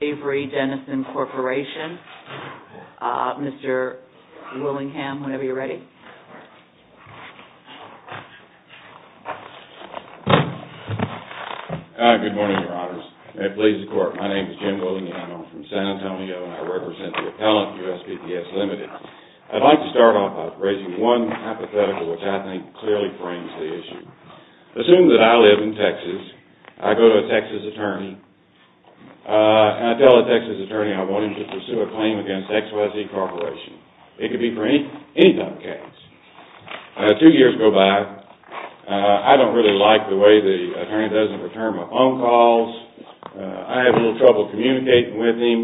AVERY DENNISON CORPORATION. Mr. Willingham, whenever you're ready. Good morning, Your Honors. May it please the Court, my name is Jim Willingham. I'm from San Antonio and I represent the appellant for USPPS Ltd. I'd like to start off by raising one hypothetical which I think clearly frames the issue. Assume that I live in Texas, I go to a Texas attorney, and I tell the Texas attorney I want him to pursue a claim against XYZ Corporation. It could be for any type of case. Two years go by, I don't really like the way the attorney doesn't return my phone calls, I have a little trouble communicating with him,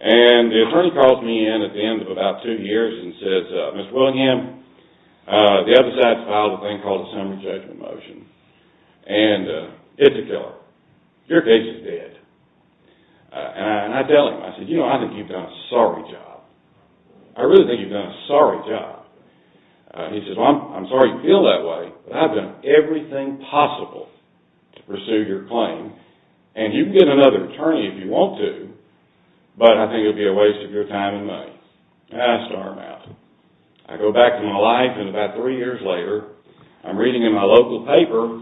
and the attorney calls me in at the end of about two years and says, Mr. Willingham, the other side has filed a thing called a summary judgment motion, and it's a killer. Your case is dead. And I tell him, I said, you know, I think you've done a sorry job. I really think you've done a sorry job. He says, well, I'm sorry you feel that way, but I've done everything possible to pursue your claim, and you can get another attorney if you want to, but I think it would be a waste of your time and money. And I storm out. I go back to my life, and about three years later, I'm reading in my local paper,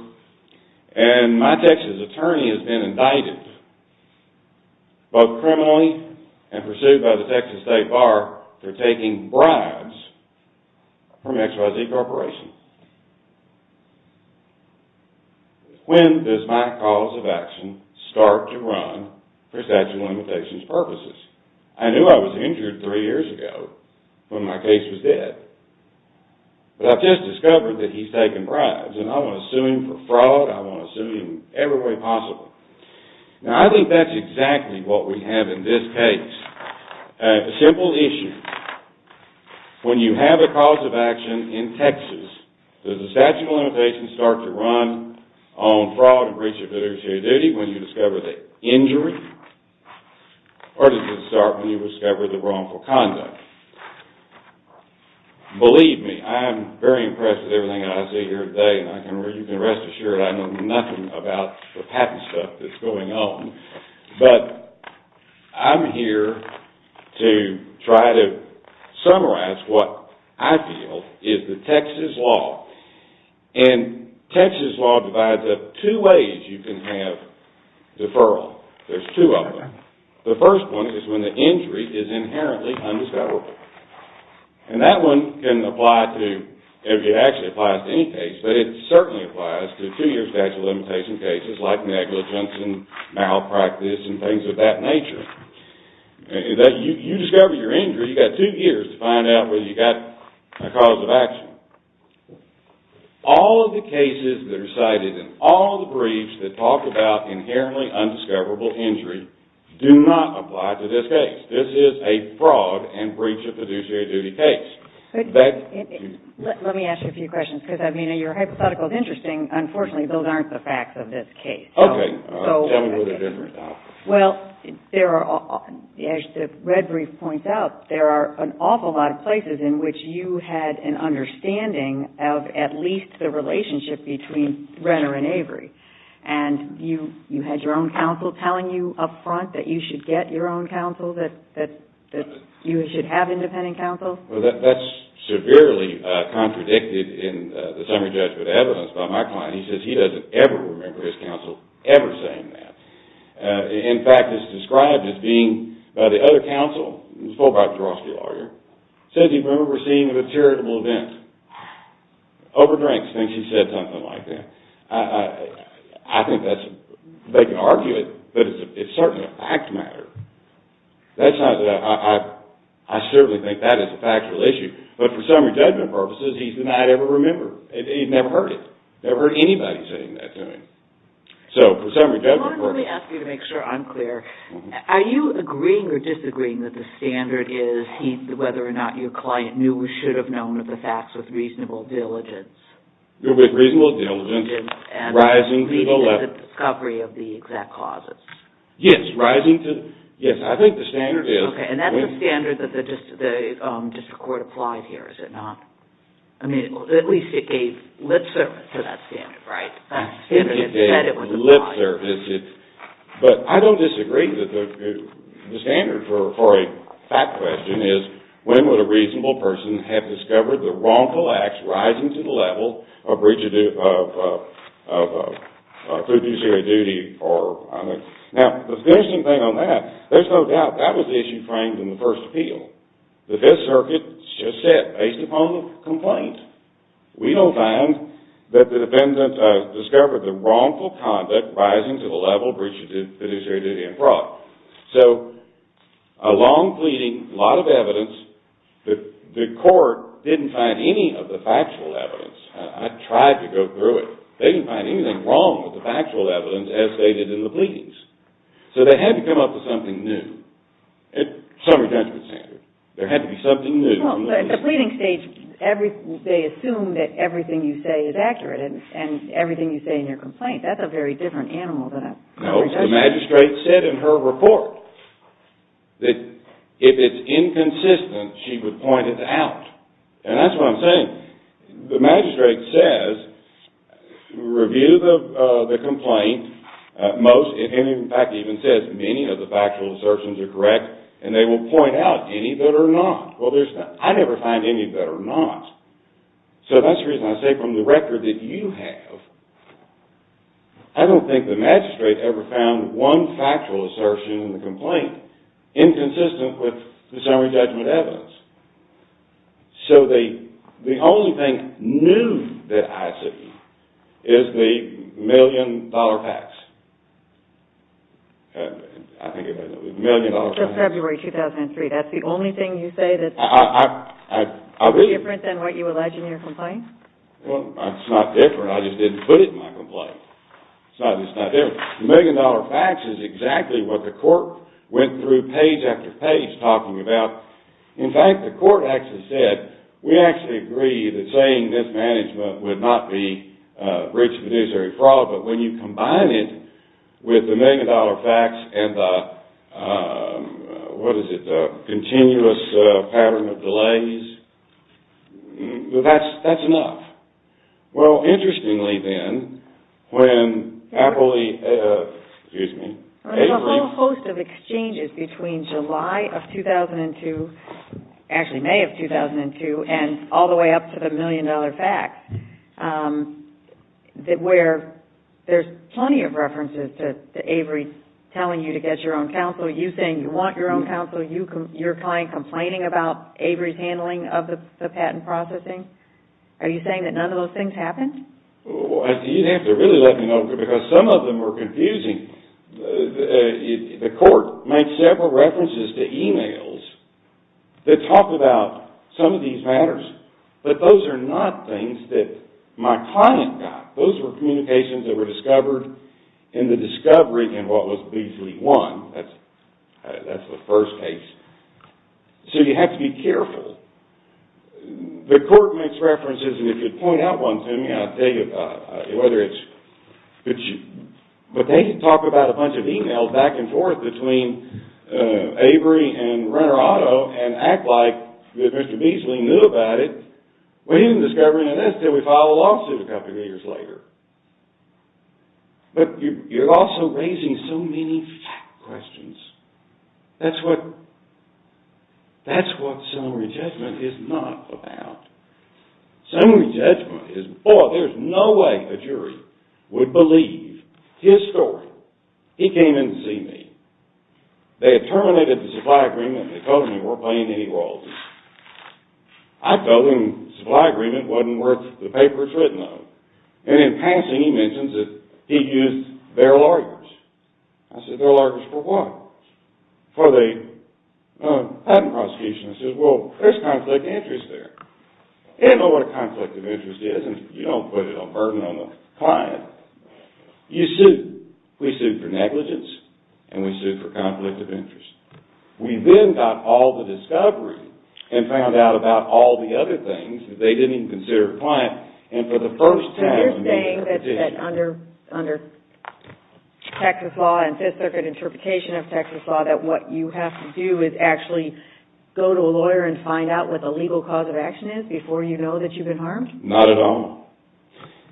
and my Texas attorney has been indicted, both criminally and pursued by the Texas State Bar for taking bribes from XYZ Corporation. When does my cause of action start to run for statute of limitations purposes? I knew I was injured three years ago when my case was dead, but I've just discovered that he's taken bribes, and I want to sue him for fraud. I want to sue him every way possible. Now, I think that's exactly what we have in this case. A simple issue. When you have a cause of action in Texas, does the statute of limitations start to run on fraud and breach of fiduciary duty when you discover the injury, or does it start when you discover the wrongful conduct? Believe me, I am very impressed with everything I see here today, and you can rest assured I know nothing about the patent stuff that's going on, but I'm here to try to summarize what I feel is the Texas law, and Texas law divides up two ways you can have deferral. There's two of them. The first one is when the injury is inherently undiscoverable, and that one can apply to, it actually applies to any case, but it certainly applies to two-year statute of limitations cases like negligence and malpractice and things of that nature. You discover your injury, you've got two years to find out whether you've got a cause of action. All of the cases that are cited in all of the briefs that talk about inherently undiscoverable injury do not apply to this case. This is a fraud and breach of fiduciary duty case. Let me ask you a few questions, because your hypothetical is interesting. Unfortunately, those aren't the facts of this case. Okay. Tell me what they're different about. Well, as the red brief points out, there are an awful lot of places in which you had an understanding of at least the relationship between Renner and Avery, and you had your own counsel telling you up front that you should get your own counsel, that you should have independent counsel? Well, that's severely contradicted in the summary judgment evidence by my client. He says he doesn't ever remember his counsel ever saying that. In fact, it's described as being by the other counsel, the Fulbright-Grosky lawyer, says he remembers seeing a charitable event. Overdrinks thinks he said something like that. I think that's, they can argue it, but it's certainly a fact matter. I certainly think that is a factual issue. But for summary judgment purposes, he's denied ever remembering. He never heard it. Never heard anybody saying that to him. So, for summary judgment purposes. Let me ask you to make sure I'm clear. Are you agreeing or disagreeing that the standard is whether or not your client knew or should have known of the facts with reasonable diligence? With reasonable diligence, rising to the level. And the discovery of the exact causes. Yes, rising to, yes. I think the standard is. Okay, and that's the standard that the district court applied here, is it not? I mean, at least it gave lip service to that standard, right? It said it was a lie. But I don't disagree that the standard for a fact question is, when would a reasonable person have discovered the wrongful acts rising to the level of fiduciary duty? Now, the interesting thing on that, there's no doubt that was the issue framed in the first appeal. The Fifth Circuit just said, based upon the complaint, we don't find that the defendant discovered the wrongful conduct rising to the level of fiduciary duty and fraud. So, a long pleading, a lot of evidence. The court didn't find any of the factual evidence. I tried to go through it. They didn't find anything wrong with the factual evidence as stated in the pleadings. So, they had to come up with something new. Summary judgment standard. There had to be something new. Well, at the pleading stage, they assume that everything you say is accurate, and everything you say in your complaint, that's a very different animal than a jury judgment. No, the magistrate said in her report that if it's inconsistent, she would point it out. And that's what I'm saying. The magistrate says, review the complaint. Most, in fact, even says many of the factual assertions are correct, and they will point out any that are not. Well, I never find any that are not. So, that's the reason I say from the record that you have, I don't think the magistrate ever found one factual assertion in the complaint inconsistent with the summary judgment evidence. So, the only thing new that I see is the million-dollar fax. I think it was a million-dollar fax. That's February 2003. That's the only thing you say that's different than what you alleged in your complaint? Well, it's not different. I just didn't put it in my complaint. It's not that it's not different. The million-dollar fax is exactly what the court went through page after page talking about. In fact, the court actually said, we actually agree that saying mismanagement would not be breaching the judiciary fraud, but when you combine it with the million-dollar fax and the, what is it, continuous pattern of delays, that's enough. Well, interestingly then, when Apolli, excuse me. There's a whole host of exchanges between July of 2002, actually May of 2002, and all the way up to the million-dollar fax, where there's plenty of references to Avery telling you to get your own counsel, you saying you want your own counsel, your client complaining about Avery's handling of the patent processing. Are you saying that none of those things happened? You'd have to really let me know because some of them are confusing. The court made several references to e-mails that talk about some of these matters, but those are not things that my client got. Those were communications that were discovered in the discovery in what was Beasley 1. That's the first case. So you have to be careful. The court makes references, and if you point out one to me, I'll tell you whether it's, but they didn't talk about a bunch of e-mails back and forth between Avery and Renner Auto and act like Mr. Beasley knew about it. We didn't discover any of this until we filed a lawsuit a couple of years later. But you're also raising so many fact questions. That's what summary judgment is not about. Summary judgment is, boy, there's no way a jury would believe his story. He came in to see me. They had terminated the supply agreement. They told him they weren't paying any royalties. I told him the supply agreement wasn't worth the papers written on, and in passing he mentions that he used their lawyers. I said, their lawyers for what? For the patent prosecution. I said, well, there's conflict of interest there. They didn't know what a conflict of interest is, and you don't put a burden on the client. You sue. We sued for negligence, and we sued for conflict of interest. We then got all the discovery and found out about all the other things that they didn't even consider a client, and for the first time in being a petitioner. So you're saying that under Texas law and Fifth Circuit interpretation of Texas law, that what you have to do is actually go to a lawyer and find out what the legal cause of action is before you know that you've been harmed? Not at all.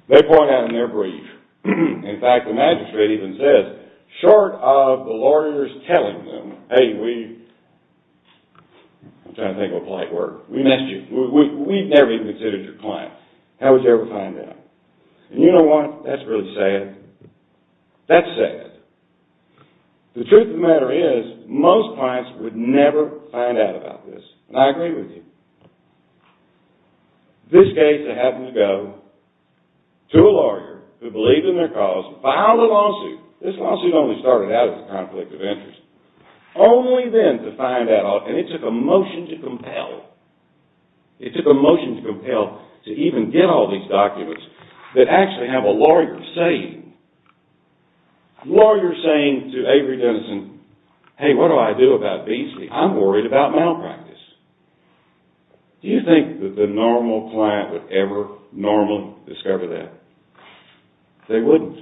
They point out in their brief, in fact, the magistrate even says, short of the lawyers telling them, hey, we, I'm trying to think of a polite word, we missed you. We've never even considered your client. How would you ever find out? And you know what? That's really sad. That's sad. The truth of the matter is, most clients would never find out about this, and I agree with you. This case, they happened to go to a lawyer who believed in their cause, filed a lawsuit, this lawsuit only started out as a conflict of interest, only then to find out, and it took a motion to compel, it took a motion to compel to even get all these documents that actually have a lawyer saying, lawyer saying to Avery Dennison, hey, what do I do about these things? I'm worried about malpractice. Do you think that the normal client would ever normally discover that? They wouldn't.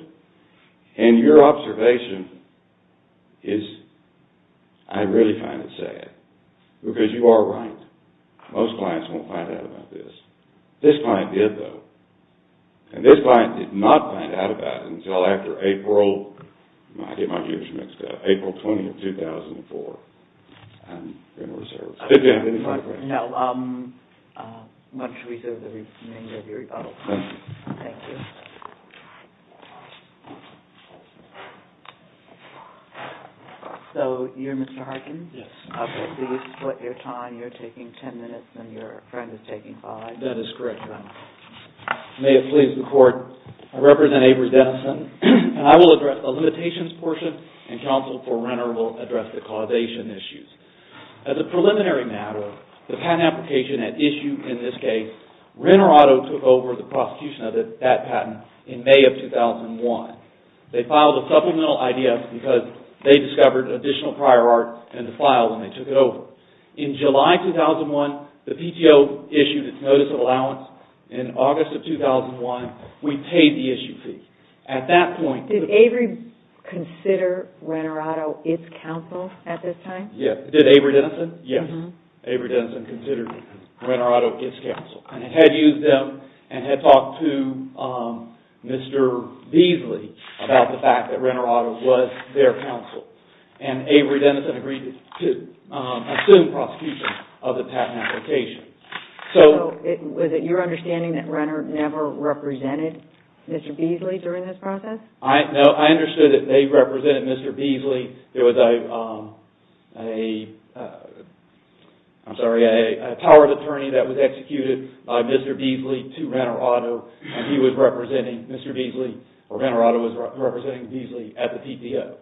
And your observation is, I really find it sad. Because you are right. Most clients won't find out about this. This client did, though. And this client did not find out about it until after April, I get my years mixed up, April 20 of 2004. I'm going to reserve the remainder of your rebuttal. Thank you. Thank you. So you're Mr. Harkin? Yes. Okay, please select your time. You're taking ten minutes and your friend is taking five. That is correct, Your Honor. May it please the Court, I represent Avery Dennison, and I will address the limitations portion, and counsel for Renner will address the causation issues. As a preliminary matter, the patent application at issue in this case, Renner Auto took over the prosecution of that patent in May of 2001. They filed a supplemental IDF because they discovered additional prior art in the file and they took it over. In July 2001, the PTO issued its notice of allowance. In August of 2001, we paid the issue fee. Did Avery consider Renner Auto its counsel at this time? Yes. Did Avery Dennison? Yes. Avery Dennison considered Renner Auto its counsel. And had used them and had talked to Mr. Beasley about the fact that Renner Auto was their counsel. And Avery Dennison agreed to assume prosecution of the patent application. Was it your understanding that Renner never represented Mr. Beasley during this process? No, I understood that they represented Mr. Beasley. There was a power of attorney that was executed by Mr. Beasley to Renner Auto and he was representing Mr. Beasley, or Renner Auto was representing Beasley at the PTO.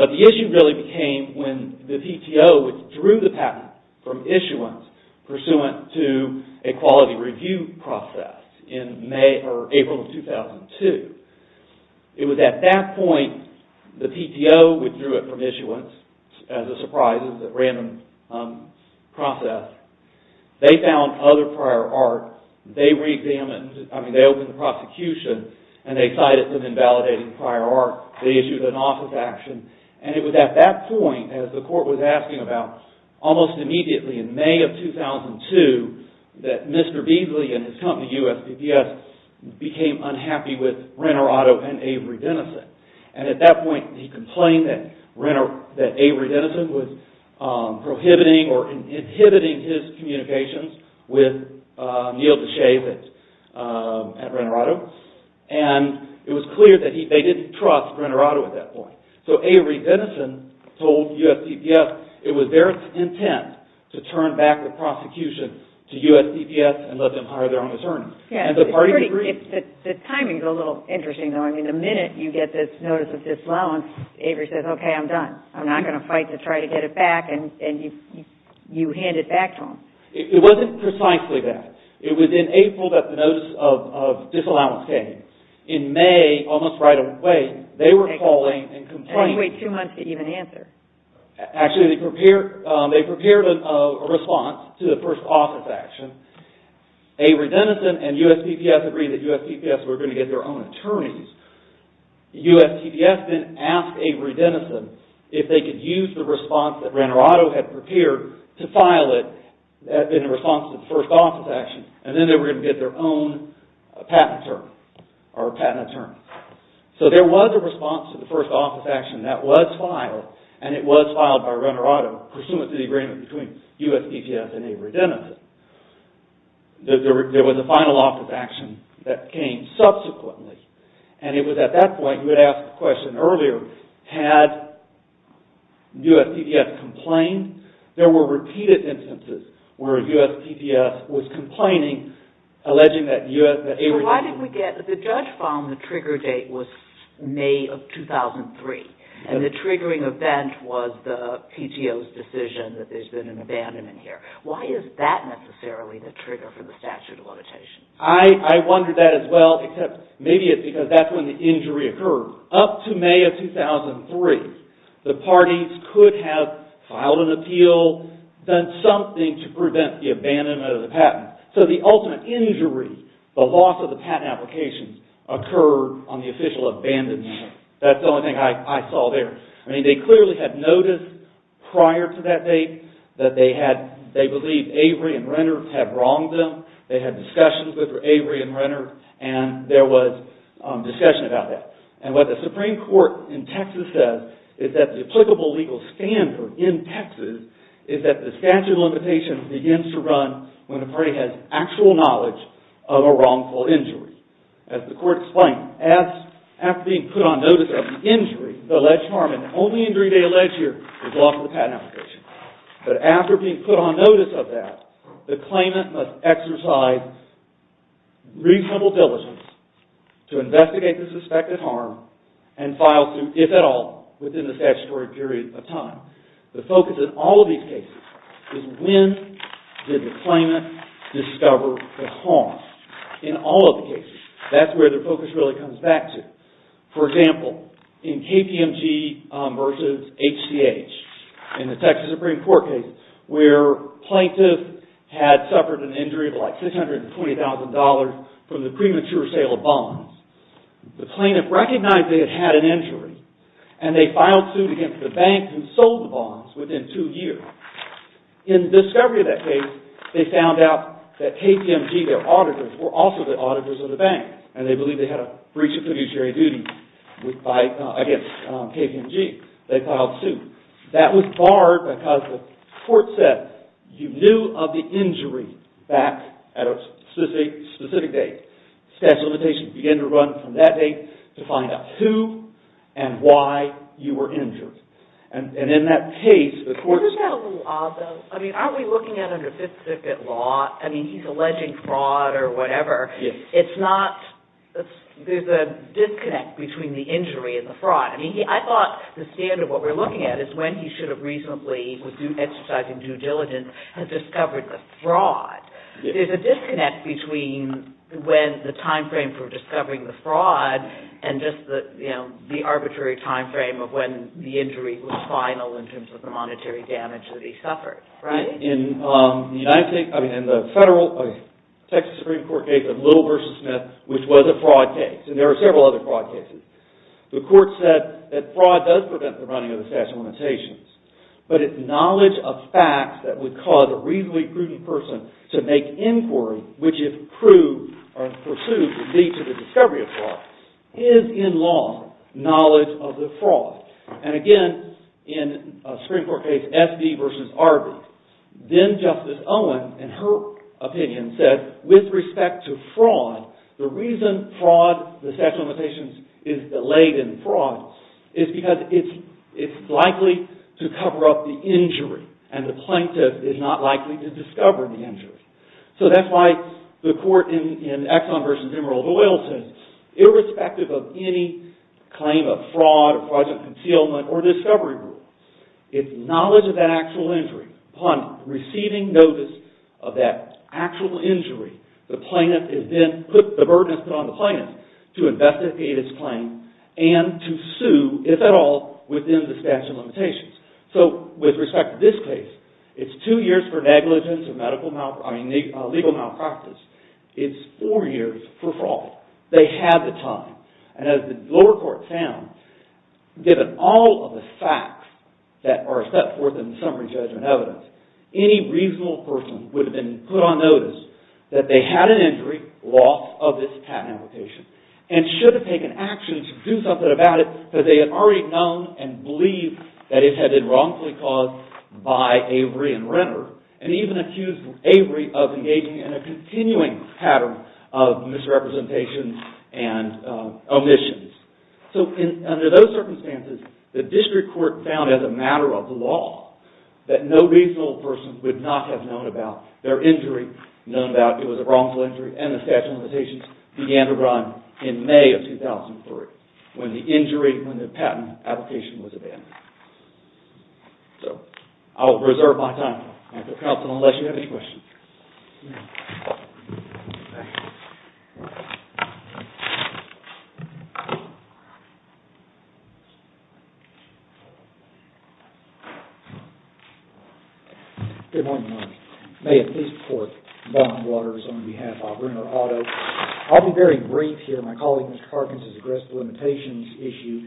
But the issue really became when the PTO withdrew the patent from issuance pursuant to a quality review process in April of 2002. It was at that point the PTO withdrew it from issuance as a surprise, as a random process. They found other prior art. They reexamined, I mean they opened the prosecution and they cited some invalidated prior art. They issued an office action. And it was at that point, as the court was asking about, almost immediately in May of 2002 that Mr. Beasley and his company USPPS became unhappy with Renner Auto and Avery Dennison. And at that point he complained that Avery Dennison was prohibiting or inhibiting his communications with Neil Deshaies at Renner Auto. And it was clear that they didn't trust Renner Auto at that point. So Avery Dennison told USPPS it was their intent to turn back the prosecution to USPPS and let them hire their own attorney. And the party agreed. The timing is a little interesting though. I mean the minute you get this notice of disallowance, Avery says okay I'm done. I'm not going to fight to try to get it back and you hand it back to him. It wasn't precisely that. It was in April that the notice of disallowance came. In May, almost right away, they were calling and complaining. They had to wait two months to even answer. Actually they prepared a response to the first office action. Avery Dennison and USPPS agreed that USPPS were going to get their own attorneys. USPPS then asked Avery Dennison if they could use the response that Renner Auto had prepared to file it in response to the first office action. And then they were going to get their own patent attorney. So there was a response to the first office action that was filed. And it was filed by Renner Auto pursuant to the agreement between USPPS and Avery Dennison. There was a final office action that came subsequently. And it was at that point you would ask the question earlier had USPPS complained? There were repeated instances where USPPS was complaining alleging that Avery Dennison... So why did we get... the judge found the trigger date was May of 2003. And the triggering event was the PTO's decision that there's been an abandonment here. Why is that necessarily the trigger for the statute of limitations? I wondered that as well, except maybe it's because that's when the injury occurred. Up to May of 2003, the parties could have filed an appeal, done something to prevent the abandonment of the patent. So the ultimate injury, the loss of the patent applications, occurred on the official abandonment. That's the only thing I saw there. I mean, they clearly had noticed prior to that date that they had... they believed Avery and Renner had wronged them. They had discussions with Avery and Renner and there was discussion about that. And what the Supreme Court in Texas says is that the applicable legal standard in Texas is that the statute of limitations begins to run when the party has actual knowledge of a wrongful injury. As the court explained, after being put on notice of the injury, the alleged harm, and the only injury they allege here is loss of the patent application, but after being put on notice of that, the claimant must exercise reasonable diligence to investigate the suspected harm and file suit, if at all, within the statutory period of time. The focus in all of these cases is when did the claimant discover the harm? In all of the cases, that's where the focus really comes back to. For example, in KPMG versus HCH, in the Texas Supreme Court case, where plaintiff had suffered an injury of like $620,000 from the premature sale of bonds, the plaintiff recognized they had had an injury and they filed suit against the bank who sold the bonds within two years. In discovery of that case, they found out that KPMG, their auditors, were also the auditors of the bank and they believed they had a breach of fiduciary duty against KPMG. They filed suit. That was barred because the court said you knew of the injury back at a specific date. Statute of limitations began to run from that date to find out who and why you were injured. And in that case, the court... Isn't that a little odd, though? I mean, aren't we looking at under Fifth Circuit law? I mean, he's alleging fraud or whatever. Yes. It's not... There's a disconnect between the injury and the fraud. I mean, I thought the standard of what we're looking at is when he should have reasonably, with due exercise and due diligence, had discovered the fraud. There's a disconnect between when the timeframe for discovering the fraud and just the arbitrary timeframe of when the injury was final in terms of the monetary damage that he suffered. Right. In the federal Texas Supreme Court case of Little v. Smith, which was a fraud case, and there were several other fraud cases, the court said that fraud does prevent the running of the statute of limitations, but its knowledge of facts that would cause a reasonably prudent person to make inquiry, which if proved or pursued would lead to the discovery of fraud, is, in law, knowledge of the fraud. And again, in a Supreme Court case, F.D. v. Arby, then Justice Owen, in her opinion, said, that with respect to fraud, the reason fraud, the statute of limitations, is delayed in fraud is because it's likely to cover up the injury, and the plaintiff is not likely to discover the injury. So that's why the court in Exxon v. Emerald Oil says, irrespective of any claim of fraud or fraudulent concealment or discovery rule, its knowledge of that actual injury, upon receiving notice of that actual injury, the burden is put on the plaintiff to investigate its claim and to sue, if at all, within the statute of limitations. So, with respect to this case, it's two years for negligence and legal malpractice. It's four years for fraud. They had the time. And as the lower court found, given all of the facts that are set forth in the summary judgment evidence, any reasonable person would have been put on notice that they had an injury, loss of this patent application, and should have taken action to do something about it, because they had already known and believed that it had been wrongfully caused by Avery and Renner, and even accused Avery of engaging in a continuing pattern of misrepresentation and omissions. So, under those circumstances, the district court found as a matter of law that no reasonable person would not have known about their injury, known that it was a wrongful injury, and the statute of limitations began to run in May of 2003, when the injury, when the patent application was abandoned. So, I will reserve my time, Mr. Counsel, unless you have any questions. Good morning, Your Honor. May it please the court, Bob Waters on behalf of Renner Auto. I'll be very brief here. My colleague, Mr. Parkins, has addressed the limitations issue.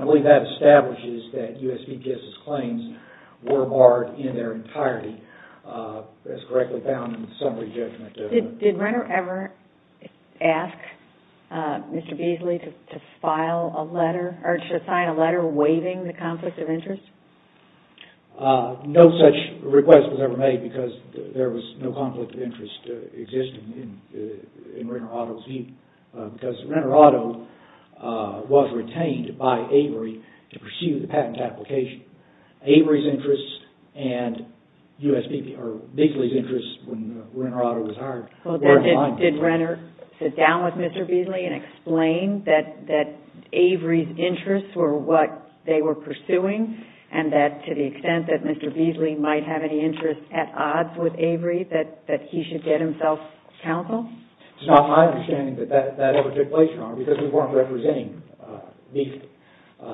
I believe that establishes that U.S. DPS's claims were barred in their entirety, as correctly found in the summary judgment. Did Renner ever ask Mr. Beasley to file a letter, or to sign a letter waiving the conflict of interest? No such request was ever made, because there was no conflict of interest existing in Renner Auto's view, because Renner Auto was retained by Avery to pursue the patent application. Avery's interests and Beasley's interests, when Renner Auto was hired, were aligned. Did Renner sit down with Mr. Beasley and explain that Avery's interests were what they were pursuing, and that to the extent that Mr. Beasley might have any interest at odds with Avery, that he should get himself counseled? It's not my understanding that that ever took place, Your Honor, because we weren't representing Beasley.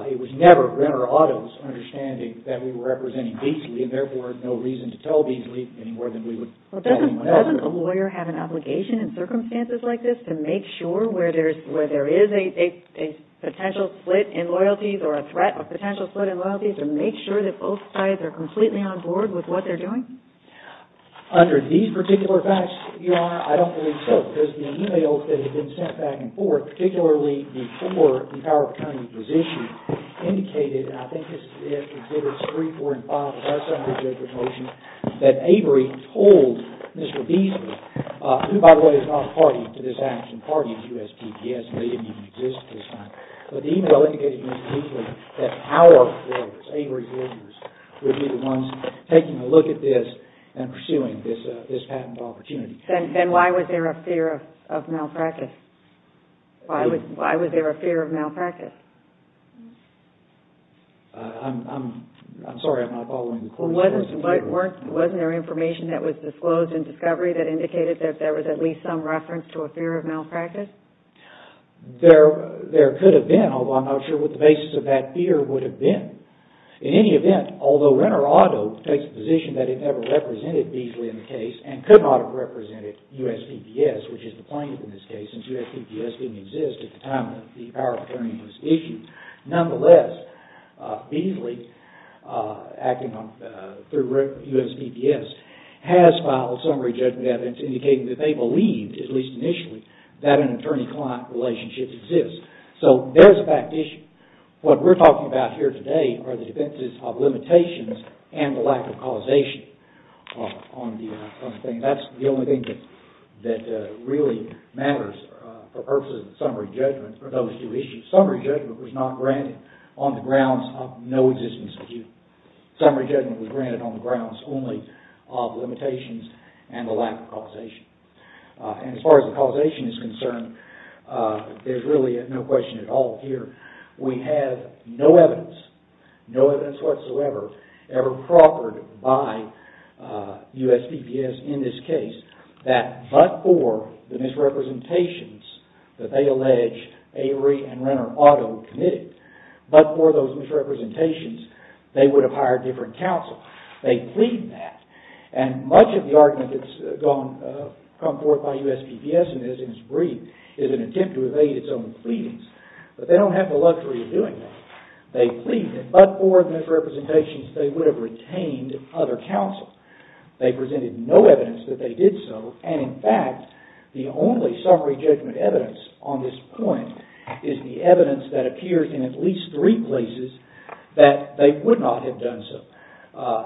It was never Renner Auto's understanding that we were representing Beasley, and therefore had no reason to tell Beasley any more than we would tell anyone else. Doesn't a lawyer have an obligation in circumstances like this to make sure where there is a potential split in loyalties, or a threat, a potential split in loyalties, to make sure that both sides are completely on board with what they're doing? Under these particular facts, Your Honor, I don't believe so, because the e-mails that had been sent back and forth, particularly before the power of attorney was issued, indicated, and I think it's 3, 4, and 5 of our summary judgment motion, that Avery told Mr. Beasley, who, by the way, is not party to this action, party to the USPPS, they didn't even exist at this time, but the e-mail indicated very clearly that our lawyers, Avery's lawyers, would be the ones taking a look at this and pursuing this patent opportunity. Then why was there a fear of malpractice? Why was there a fear of malpractice? I'm sorry, I'm not following the question. Wasn't there information that was disclosed in discovery that indicated that there was at least some reference to a fear of malpractice? There could have been, although I'm not sure what the basis of that fear would have been. In any event, although Renner Auto takes a position that it never represented Beasley in the case and could not have represented USPPS, which is the plaintiff in this case, since USPPS didn't exist at the time that the power of attorney was issued, nonetheless, Beasley, acting through USPPS, has filed a summary judgment evidence indicating that they believed, at least initially, that an attorney-client relationship exists. So there's a back issue. What we're talking about here today are the defenses of limitations and the lack of causation. That's the only thing that really matters for purposes of the summary judgment for those two issues. Summary judgment was not granted on the grounds of no existence of you. Summary judgment was granted on the grounds only of limitations and the lack of causation. As far as the causation is concerned, there's really no question at all here that we have no evidence, no evidence whatsoever, ever proffered by USPPS in this case that but for the misrepresentations that they allege Avery and Renner Auto committed, but for those misrepresentations, they would have hired different counsel. They plead that, and much of the argument that's come forth by USPPS in this brief is an attempt to evade its own pleadings, but they don't have the luxury of doing that. They plead that but for the misrepresentations, they would have retained other counsel. They presented no evidence that they did so, and in fact, the only summary judgment evidence on this point is the evidence that appears in at least three places that they would not have done so.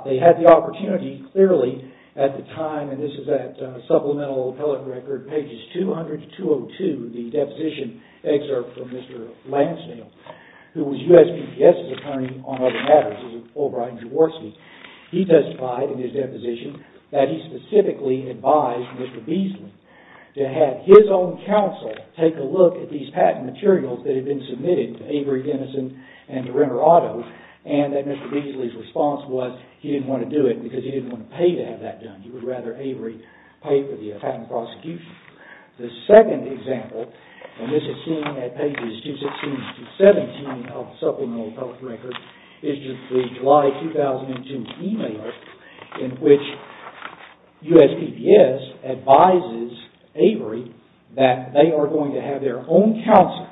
They had the opportunity, clearly, at the time, and this is at Supplemental Appellate Record, pages 200 to 202 of the deposition excerpt from Mr. Lansdale, who was USPPS's attorney on other matters. He testified in his deposition that he specifically advised Mr. Beasley to have his own counsel take a look at these patent materials that had been submitted to Avery Dennison and to Renner Auto and that Mr. Beasley's response was he didn't want to do it because he didn't want to pay to have that done. He would rather Avery pay for the patent prosecution. The second example, and this is seen at pages 216 to 217 of Supplemental Appellate Record, is the July 2002 email in which USPPS advises Avery that they are going to have their own counsel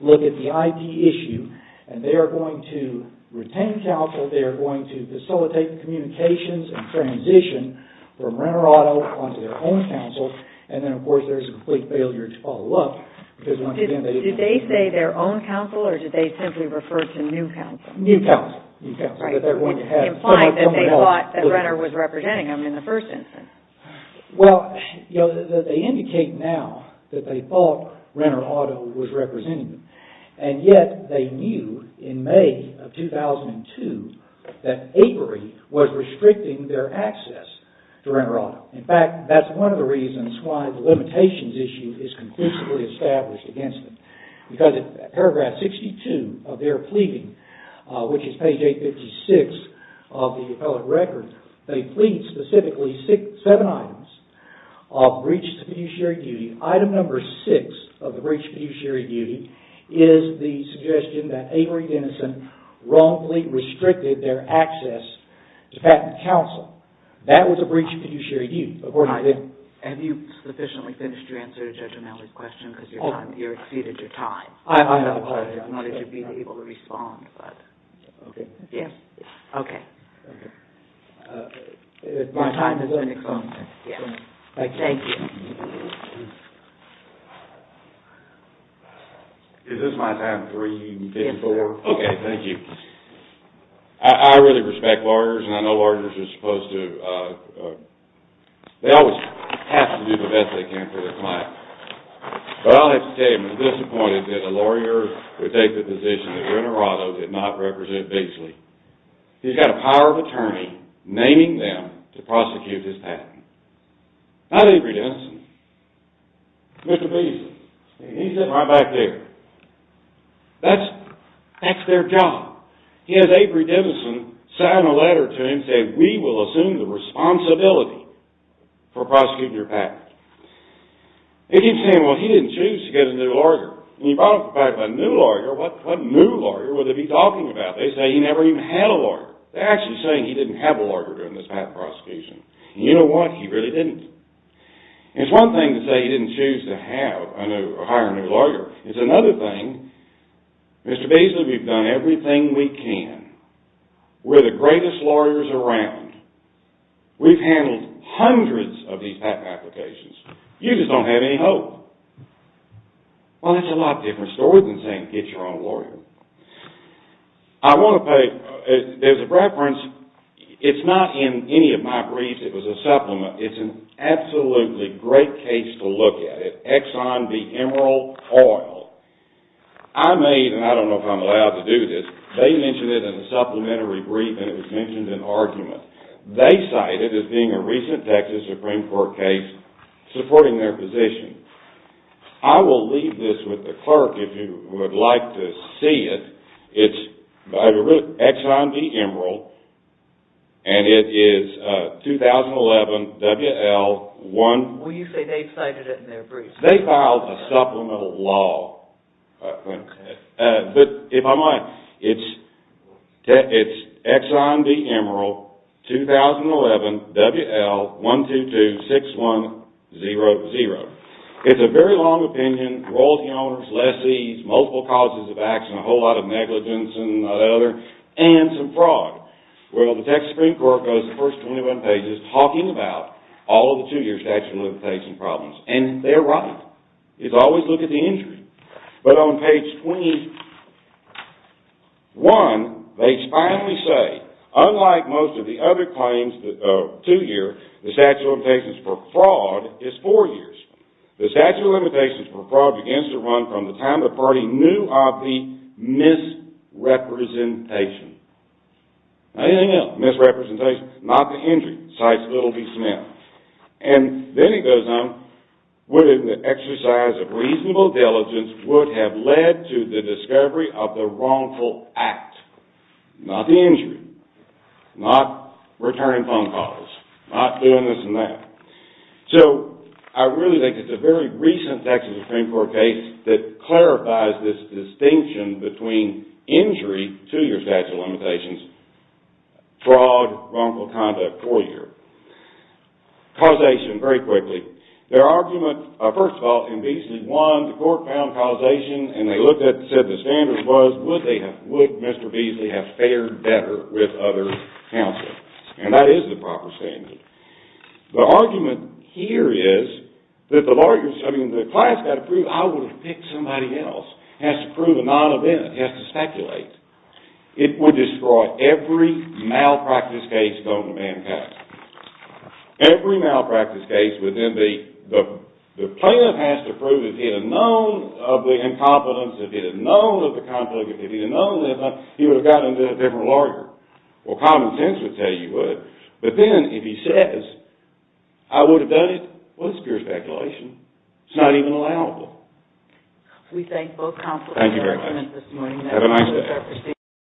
look at the IP issue and they are going to retain counsel. They are going to facilitate communications and transition from Renner Auto onto their own counsel and then, of course, there's a complete failure to follow up. Do they say their own counsel or do they simply refer to new counsel? New counsel. Implying that they thought that Renner was representing them in the first instance. Well, they indicate now that they thought Renner Auto was representing them and yet they knew in May of 2002 that Avery was restricting their access to Renner Auto. In fact, that's one of the reasons why the limitations issue is conclusively established against them because in paragraph 62 of their pleading, which is page 856 of the appellate record, they plead specifically seven items of breach of fiduciary duty. Item number six of the breach of fiduciary duty is the suggestion that Avery Denison wrongfully restricted their access to patent counsel. That was a breach of fiduciary duty. Have you sufficiently finished your answer to Judge O'Malley's question because you exceeded your time? I know. I just wanted to be able to respond. Okay. Yes. Okay. My time is going to come. Yes. Thank you. Is this my time? Yes, sir. Okay. Thank you. I really respect lawyers and I know lawyers are supposed to, they always have to do the best they can for their client. But I'll have to tell you, I'm disappointed that a lawyer would take the position that Renner Auto did not represent Beasley. He's got a power of attorney naming them to prosecute his patent. Not Avery Denison. Mr. Beasley. He's sitting right back there. That's their job. He has Avery Denison sign a letter to him saying, we will assume the responsibility for prosecuting your patent. They keep saying, well, he didn't choose to get a new lawyer. When you brought up the fact of a new lawyer, what new lawyer would they be talking about? They say he never even had a lawyer. They're actually saying he didn't have a lawyer during this patent prosecution. You know what? He really didn't. It's one thing to say he didn't choose to hire a new lawyer. It's another thing, Mr. Beasley, we've done everything we can. We're the greatest lawyers around. We've handled hundreds of these patent applications. You just don't have any hope. Well, that's a lot different story than saying get your own lawyer. I want to play, as a reference, it's not in any of my briefs. It was a supplement. It's an absolutely great case to look at, Exxon v. Emerald Oil. I made, and I don't know if I'm allowed to do this, they mentioned it in a supplementary brief and it was mentioned in argument. They cite it as being a recent Texas Supreme Court case supporting their position. I will leave this with the clerk if you would like to see it. It's Exxon v. Emerald and it is 2011 WL1. Well, you say they cited it in their brief. They filed a supplemental law. But if I might, it's Exxon v. Emerald, 2011 WL1226100. It's a very long opinion, royalty owners, lessees, multiple causes of acts, and a whole lot of negligence and that other, and some fraud. Well, the Texas Supreme Court goes the first 21 pages talking about all of the two-year statute of limitations problems, and they're right. It's always look at the injury. But on page 21, they finally say, unlike most of the other claims of two-year, the statute of limitations for fraud is four years. The statute of limitations for fraud begins to run from the time the party knew of the misrepresentation. Anything else, misrepresentation, not the injury, cites little v. Smith. And then it goes on. The exercise of reasonable diligence would have led to the discovery of the wrongful act, not the injury, not returning phone calls, not doing this and that. So I really think it's a very recent Texas Supreme Court case that clarifies this distinction between injury, two-year statute of limitations, fraud, wrongful conduct, four-year. Causation, very quickly. Their argument, first of all, in Beasley, one, the court found causation, and they looked at it and said the standard was, would Mr. Beasley have fared better with other counsel? And that is the proper standard. The argument here is that the class has got to prove, I would have picked somebody else. It has to prove a non-event. It has to speculate. It would destroy every malpractice case known to mankind. Every malpractice case would then be, the plaintiff has to prove if he had known of the incompetence, if he had known of the conflict, if he had known, he would have gotten into a different lawyer. Well, common sense would tell you he would. But then if he says, I would have done it, well, it's pure speculation. It's not even allowable. We thank both counsels. Thank you very much. Have a nice day.